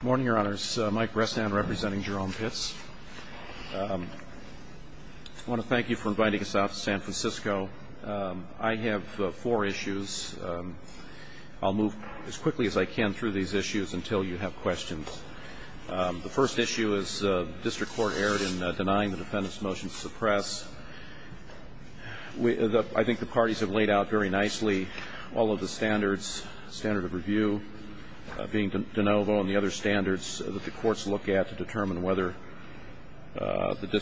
Good morning your honors. Mike Brestan, representing Jerome Pitts. I want to thank you for inviting us out to San Francisco. I have four issues. I'll move as quickly as I can through these issues until you have questions. The first issue is the district court erred in denying the defendant's motion to suppress. I think the parties have laid out very nicely all of the standards, standard of review, being de novo and the other standards that the courts look at to determine whether the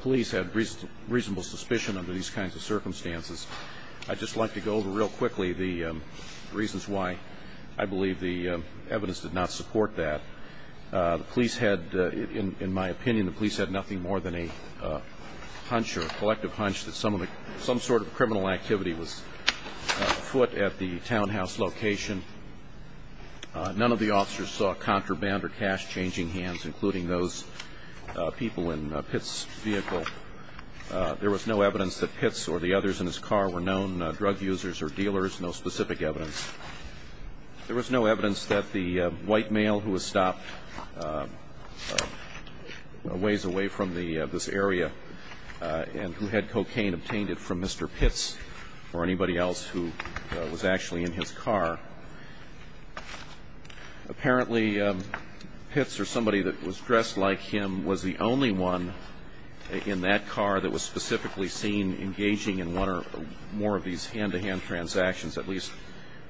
police had reasonable suspicion under these kinds of circumstances. I'd just like to go over real quickly the reasons why I believe the evidence did not support that. The police had, in my opinion, the police had nothing more than a hunch or a collective hunch that some sort of criminal activity was afoot at the townhouse location. None of the officers saw contraband or cash changing hands, including those people in Pitts' vehicle. There was no evidence that Pitts or the others in his car were known drug users or dealers, no specific evidence. There was no evidence that the white male who was stopped a ways away from this area and who had cocaine obtained it from Mr. Pitts or anybody else who was actually in his car. Apparently, Pitts or somebody that was dressed like him was the only one in that car that was specifically seen engaging in one or more of these hand-to-hand transactions, at least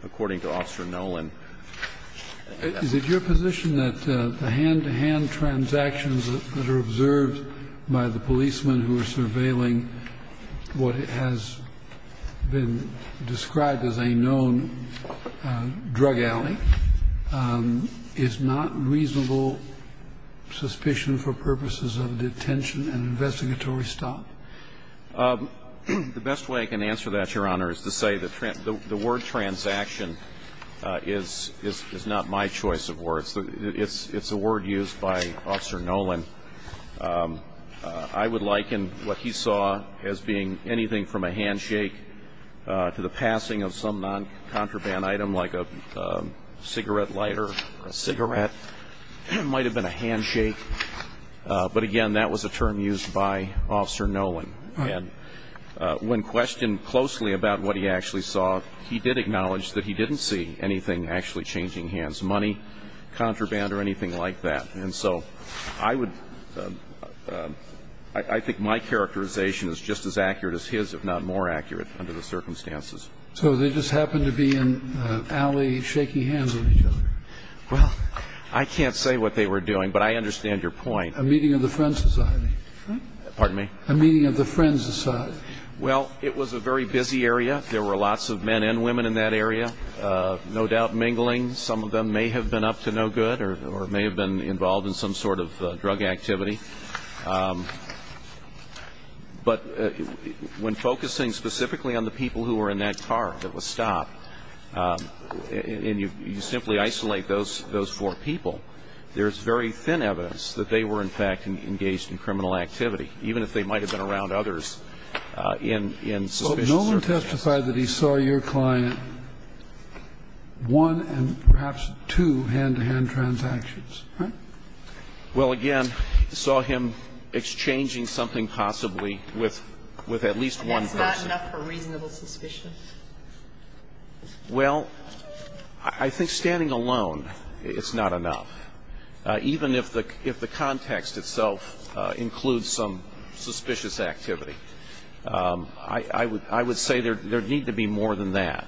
according to Officer Nolan. Is it your position that the hand-to-hand transactions that are observed by the policemen who are surveilling what has been described as a known drug alley is not reasonable suspicion for purposes of a detention and investigatory stop? The best way I can answer that, Your Honor, is to say the word transaction is not my choice of words. It's a word used by Officer Nolan. I would liken what he saw as being anything from a handshake to the passing of some non-contraband item like a cigarette lighter or a cigarette. It might have been a handshake, but, again, that was a term used by Officer Nolan. And when questioned closely about what he actually saw, he did acknowledge that he didn't see anything actually changing hands, money, contraband or anything like that. And so I would – I think my characterization is just as accurate as his, if not more accurate under the circumstances. So they just happened to be in an alley shaking hands with each other? Well, I can't say what they were doing, but I understand your point. A meeting of the Friends Society. Pardon me? A meeting of the Friends Society. Well, it was a very busy area. There were lots of men and women in that area, no doubt mingling. Some of them may have been up to no good or may have been involved in some sort of drug activity. But when focusing specifically on the people who were in that car that was stopped, and you simply isolate those four people, there's very thin evidence that they were, in fact, engaged in criminal activity, even if they might have been around others in suspicious circumstances. Well, Nolan testified that he saw your client one and perhaps two hand-to-hand transactions, right? Well, again, saw him exchanging something possibly with at least one person. And that's not enough for reasonable suspicion? Well, I think standing alone is not enough, even if the context itself includes some suspicious activity. I would say there would need to be more than that.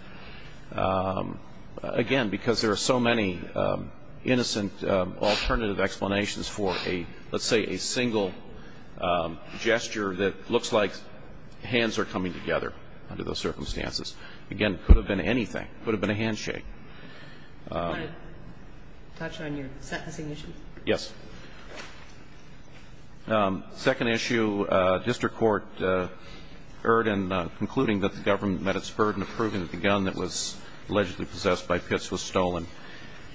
Again, because there are so many innocent alternative explanations for a, let's say, a single gesture that looks like hands are coming together under those circumstances. Again, it could have been anything. It could have been a handshake. Do you want to touch on your sentencing issue? Yes. Second issue, district court erred in concluding that the government met its burden of proving that the gun that was allegedly possessed by Pitts was stolen.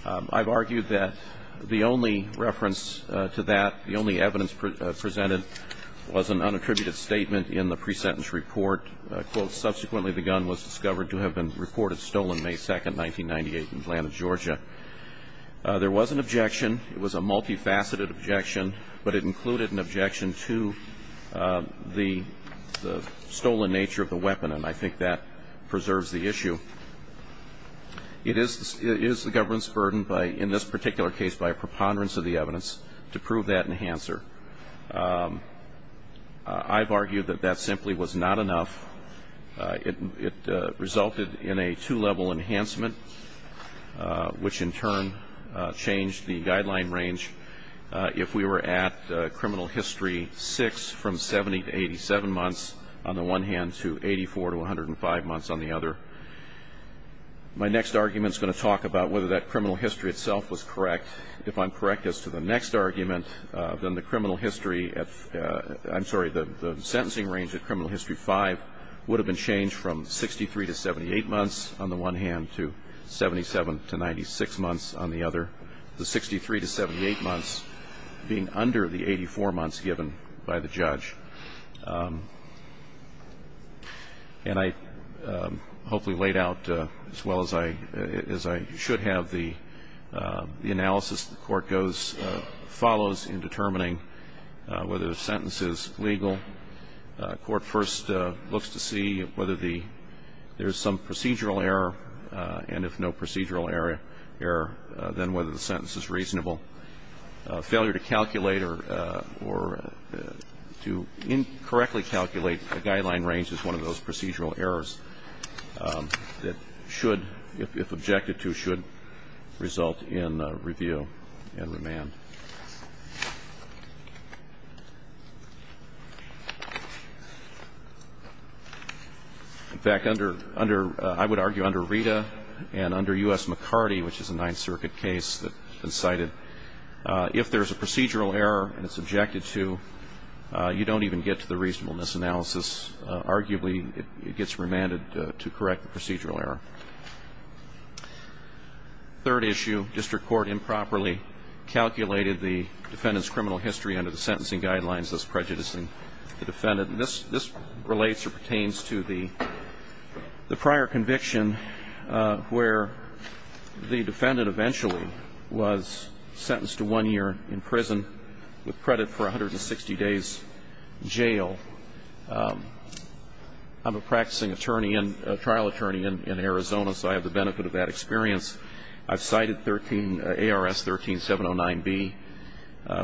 I've argued that the only reference to that, the only evidence presented, was an unattributed statement in the pre-sentence report. Subsequently, the gun was discovered to have been reported stolen May 2, 1998, in Atlanta, Georgia. There was an objection. It was a multifaceted objection, but it included an objection to the stolen nature of the weapon, and I think that preserves the issue. It is the government's burden, in this particular case, by a preponderance of the evidence, to prove that enhancer. I've argued that that simply was not enough. It resulted in a two-level enhancement, which in turn changed the guideline range. If we were at criminal history 6 from 70 to 87 months, on the one hand, to 84 to 105 months on the other. My next argument is going to talk about whether that criminal history itself was correct. If I'm correct as to the next argument, then the criminal history, I'm sorry, the sentencing range of criminal history 5 would have been changed from 63 to 78 months, on the one hand, to 77 to 96 months on the other. The 63 to 78 months being under the 84 months given by the judge. And I hopefully laid out, as well as I should have, the analysis the court goes, follows in determining whether the sentence is legal. Court first looks to see whether there's some procedural error, and if no procedural error, then whether the sentence is reasonable. Failure to calculate or to incorrectly calculate the guideline range is one of those procedural errors that should, if objected to, should result in review and remand. In fact, I would argue under Rita and under U.S. McCarty, which is a Ninth Circuit case that's been cited, if there's a procedural error and it's objected to, you don't even get to the reasonableness analysis. Arguably, it gets remanded to correct the procedural error. Third issue, district court improperly calculated the defendant's criminal history under the sentencing guidelines thus prejudicing the defendant. This relates or pertains to the prior conviction where the defendant eventually was sentenced to one year in prison with credit for 160 days jail. I'm a practicing attorney and a trial attorney in Arizona, so I have the benefit of that experience. I've cited ARS 13709B,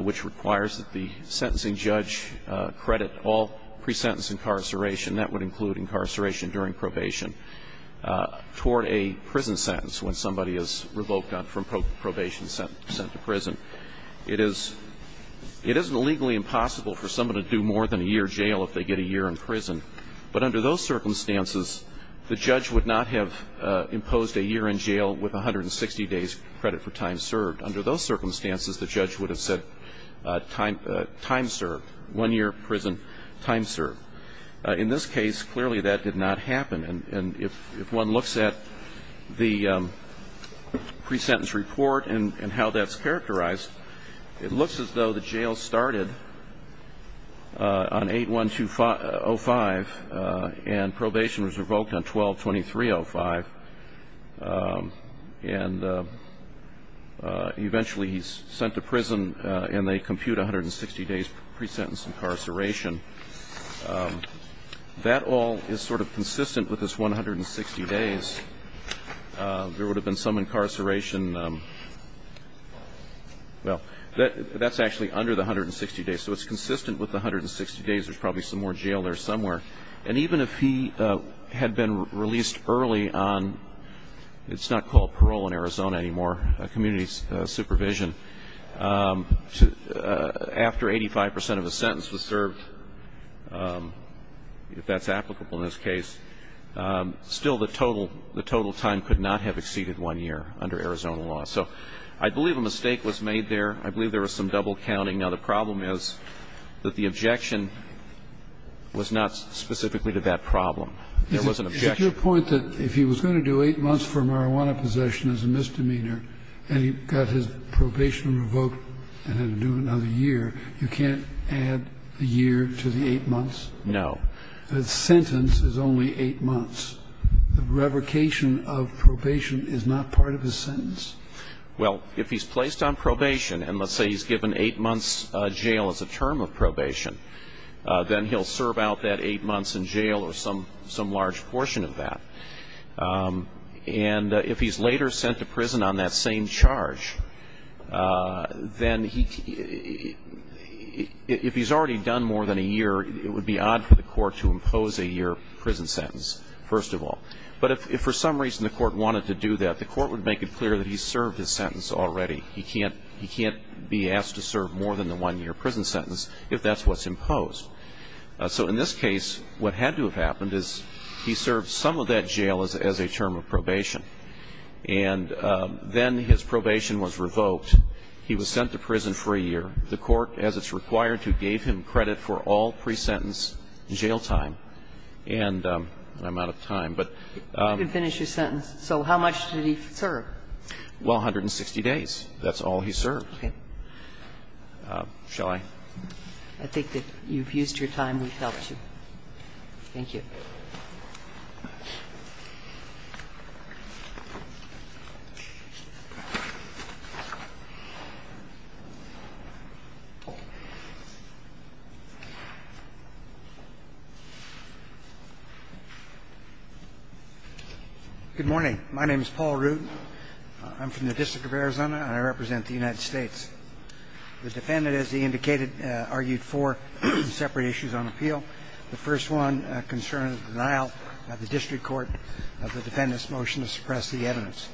which requires that the sentencing judge credit all pre-sentence incarceration. That would include incarceration during probation toward a prison sentence when somebody is revoked from probation and sent to prison. It is legally impossible for somebody to do more than a year in jail if they get a year in prison. But under those circumstances, the judge would not have imposed a year in jail with 160 days credit for time served. Under those circumstances, the judge would have said time served, one year in prison, time served. In this case, clearly that did not happen. And if one looks at the pre-sentence report and how that's characterized, it looks as though the jail started on 8-1-2-0-5 and probation was revoked on 12-23-0-5. And eventually he's sent to prison and they compute 160 days pre-sentence incarceration. That all is sort of consistent with this 160 days. There would have been some incarceration. Well, that's actually under the 160 days, so it's consistent with the 160 days. There's probably some more jail there somewhere. And even if he had been released early on, it's not called parole in Arizona anymore, supervision, after 85 percent of the sentence was served, if that's applicable in this case, still the total time could not have exceeded one year under Arizona law. So I believe a mistake was made there. I believe there was some double counting. Now, the problem is that the objection was not specifically to that problem. There was an objection. Your point that if he was going to do eight months for marijuana possession as a misdemeanor and he got his probation revoked and had to do another year, you can't add a year to the eight months? No. The sentence is only eight months. The revocation of probation is not part of his sentence. Well, if he's placed on probation, and let's say he's given eight months jail as a term of probation, then he'll serve out that eight months in jail or some large portion of that. And if he's later sent to prison on that same charge, then if he's already done more than a year, it would be odd for the court to impose a year prison sentence, first of all. But if for some reason the court wanted to do that, the court would make it clear that he served his sentence already. He can't be asked to serve more than the one-year prison sentence if that's what's imposed. So in this case, what had to have happened is he served some of that jail as a term of probation. And then his probation was revoked. He was sent to prison for a year. The court, as it's required to, gave him credit for all pre-sentence jail time. And I'm out of time, but ---- You can finish your sentence. So how much did he serve? Well, 160 days. That's all he served. Okay. Shall I? I think that you've used your time. We've helped you. Thank you. Thank you. Good morning. My name is Paul Root. I'm from the District of Arizona, and I represent the United States. The defendant, as he indicated, argued four separate issues on appeal. The first one concerned the denial by the district court of the defendant's motion to suppress the evidence.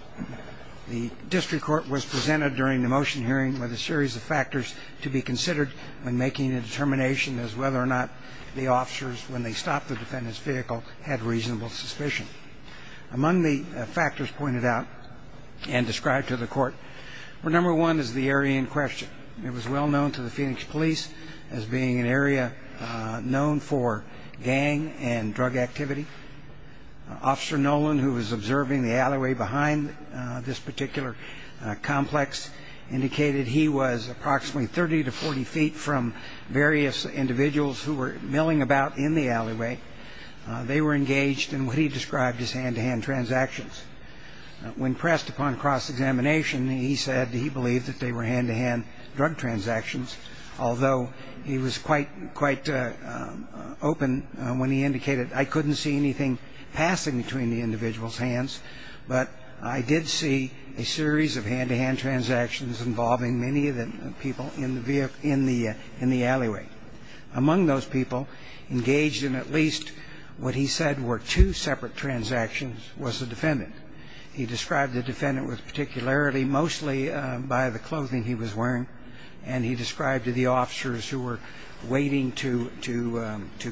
The district court was presented during the motion hearing with a series of factors to be considered when making a determination as whether or not the officers, when they stopped the defendant's vehicle, had reasonable suspicion. Among the factors pointed out and described to the court were number one is the area in question. It was well known to the Phoenix police as being an area known for gang and drug activity. Officer Nolan, who was observing the alleyway behind this particular complex, indicated he was approximately 30 to 40 feet from various individuals who were milling about in the alleyway. They were engaged in what he described as hand-to-hand transactions. When pressed upon cross-examination, he said he believed that they were hand-to-hand drug transactions, although he was quite open when he indicated, I couldn't see anything passing between the individual's hands, but I did see a series of hand-to-hand transactions involving many of the people in the alleyway. Among those people engaged in at least what he said were two separate transactions was the defendant. He described the defendant was particularly mostly by the clothing he was wearing, and he described the officers who were waiting to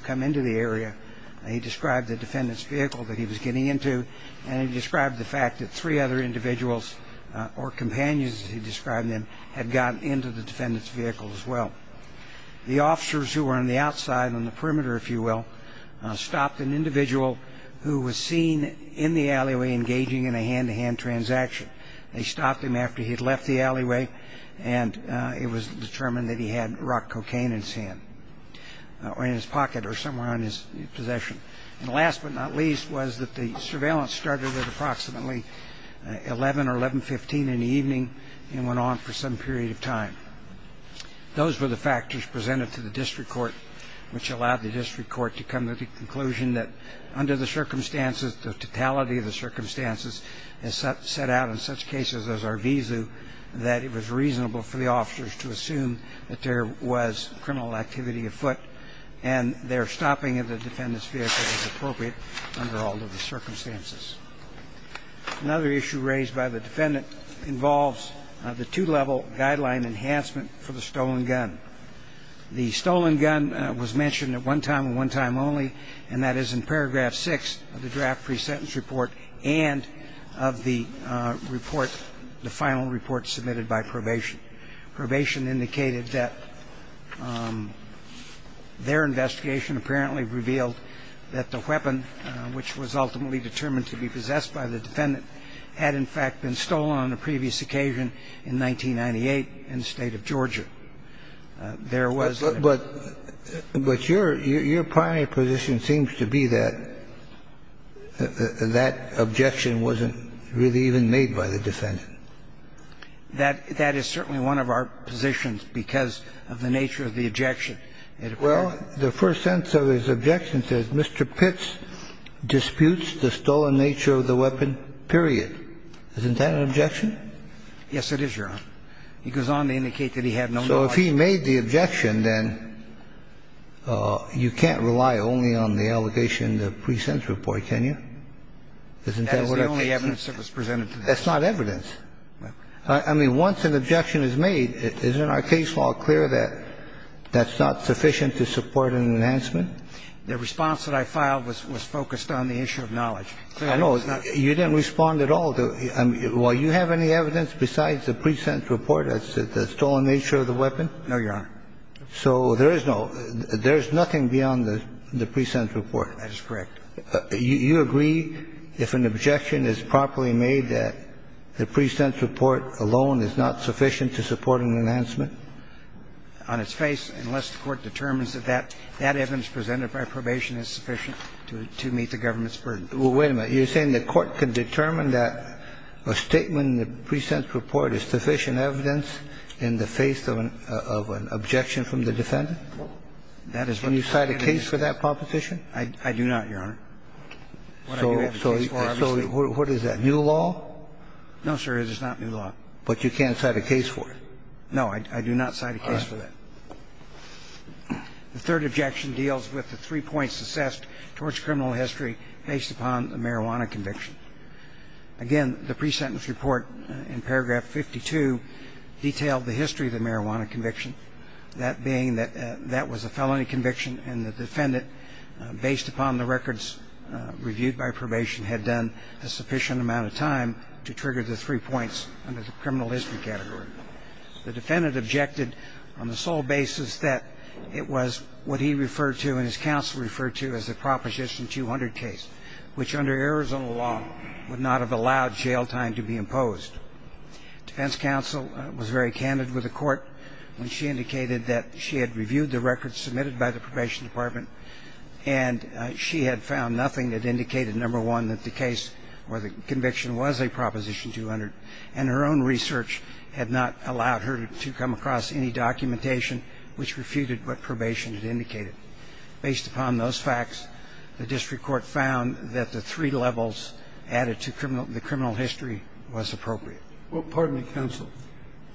come into the area. He described the defendant's vehicle that he was getting into, and he described the fact that three other individuals or companions, as he described them, had gotten into the defendant's vehicle as well. The officers who were on the outside, on the perimeter, if you will, stopped an individual who was seen in the alleyway engaging in a hand-to-hand transaction. They stopped him after he had left the alleyway, and it was determined that he had rock cocaine in his hand or in his pocket or somewhere in his possession. And last but not least was that the surveillance started at approximately 11 or 11.15 in the evening and went on for some period of time. Those were the factors presented to the district court, which allowed the district court to come to the conclusion that under the circumstances, the totality of the circumstances had set out in such cases as Arvizu that it was reasonable for the officers to assume that there was criminal activity afoot and their stopping of the defendant's vehicle was appropriate under all of the circumstances. Another issue raised by the defendant involves the two-level guideline enhancement for the stolen gun. The stolen gun was mentioned at one time and one time only, and that is in paragraph six of the draft pre-sentence report and of the report, the final report submitted by probation. Probation indicated that their investigation apparently revealed that the weapon, which was ultimately determined to be possessed by the defendant, had in fact been stolen on a previous occasion in 1998 in the state of Georgia. There was no ---- But your primary position seems to be that that objection wasn't really even made by the defendant. That is certainly one of our positions because of the nature of the objection. Well, the first sentence of his objection says, Mr. Pitts disputes the stolen nature of the weapon, period. Isn't that an objection? Yes, it is, Your Honor. He goes on to indicate that he had no knowledge. So if he made the objection, then you can't rely only on the allegation in the pre-sentence report, can you? Isn't that what I'm saying? That's the only evidence that was presented to the defense. That's not evidence. I mean, once an objection is made, isn't our case law clear that that's not sufficient to support an enhancement? The response that I filed was focused on the issue of knowledge. I know. You didn't respond at all. Well, you have any evidence besides the pre-sentence report as to the stolen nature of the weapon? No, Your Honor. So there is no ---- there is nothing beyond the pre-sentence report. That is correct. You agree, if an objection is properly made, that the pre-sentence report alone is not sufficient to support an enhancement? On its face, unless the Court determines that that evidence presented by probation is sufficient to meet the government's burden. Well, wait a minute. You're saying the Court can determine that a statement in the pre-sentence report is sufficient evidence in the face of an objection from the defendant? That is what I'm saying. Can you cite a case for that proposition? I do not, Your Honor. So what is that, new law? No, sir, it is not new law. But you can cite a case for it? No, I do not cite a case for that. All right. The third objection deals with the three points assessed towards criminal history based upon the marijuana conviction. Again, the pre-sentence report in paragraph 52 detailed the history of the marijuana conviction. That being that that was a felony conviction and the defendant, based upon the records reviewed by probation, had done a sufficient amount of time to trigger the three points under the criminal history category. The defendant objected on the sole basis that it was what he referred to and his counsel referred to as the Proposition 200 case, Defense counsel was very candid with the court when she indicated that she had reviewed the records submitted by the probation department, and she had found nothing that indicated, number one, that the case or the conviction was a Proposition 200, and her own research had not allowed her to come across any documentation which refuted what probation had indicated. Based upon those facts, the district court found that the three levels added to the criminal history was appropriate. Well, pardon me, counsel.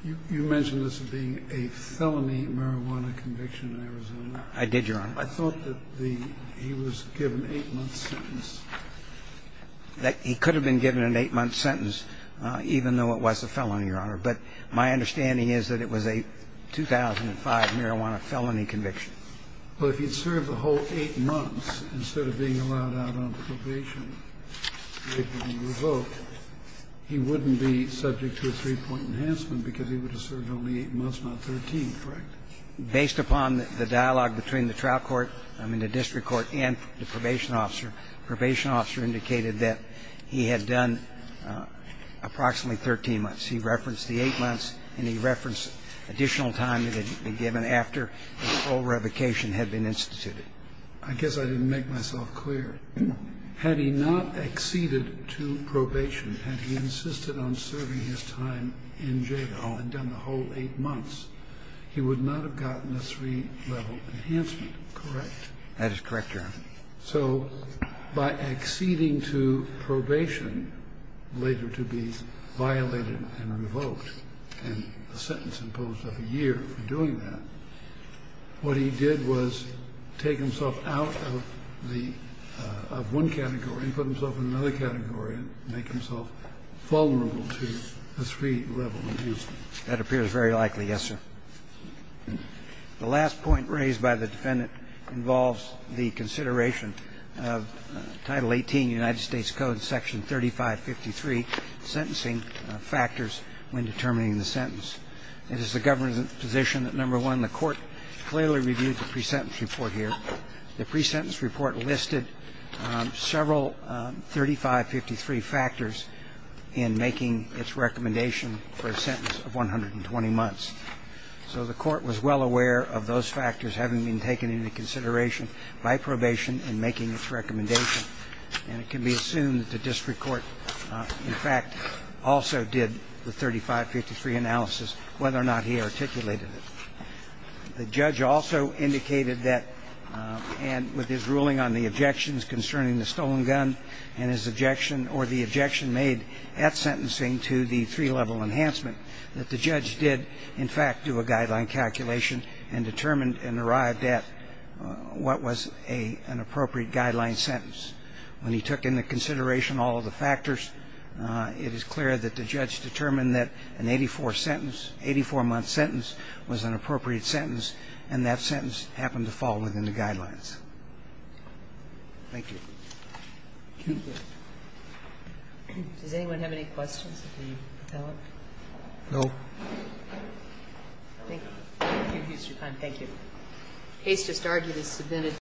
You mentioned this being a felony marijuana conviction in Arizona. I did, Your Honor. I thought that he was given an eight-month sentence. He could have been given an eight-month sentence even though it was a felony, Your Honor. But my understanding is that it was a 2005 marijuana felony conviction. Well, if he had served the whole eight months instead of being allowed out on probation and being revoked, he wouldn't be subject to a three-point enhancement because he would have served only eight months, not 13, correct? Based upon the dialogue between the trial court, I mean, the district court and the probation officer, the probation officer indicated that he had done approximately 13 months. He referenced the eight months and he referenced additional time that had been given after the full revocation had been instituted. I guess I didn't make myself clear. Had he not acceded to probation, had he insisted on serving his time in jail and done the whole eight months, he would not have gotten a three-level enhancement, correct? That is correct, Your Honor. So by acceding to probation, later to be violated and revoked, and a sentence imposed of a year for doing that, what he did was take himself out of the one category and put himself in another category and make himself vulnerable to a three-level enhancement. That appears very likely, yes, sir. The last point raised by the Defendant involves the consideration of Title 18, United States Code, Section 3553, sentencing factors when determining the sentence. It is the government's position that, number one, the court clearly reviewed the pre-sentence report here. The pre-sentence report listed several 3553 factors in making its recommendation for a sentence of 120 months. So the court was well aware of those factors having been taken into consideration by probation in making its recommendation. And it can be assumed that the district court, in fact, also did the 3553 analysis, whether or not he articulated it. The judge also indicated that with his ruling on the objections concerning the stolen gun and his objection or the objection made at sentencing to the three-level enhancement, that the judge did, in fact, do a guideline calculation and determined and arrived at what was an appropriate guideline sentence. When he took into consideration all of the factors, it is clear that the judge determined that an 84-sentence, 84-month sentence was an appropriate sentence, and that sentence happened to fall within the guidelines. Thank you. Thank you. Does anyone have any questions that need to be developed? Thank you. Thank you, Mr. Kline. Thank you.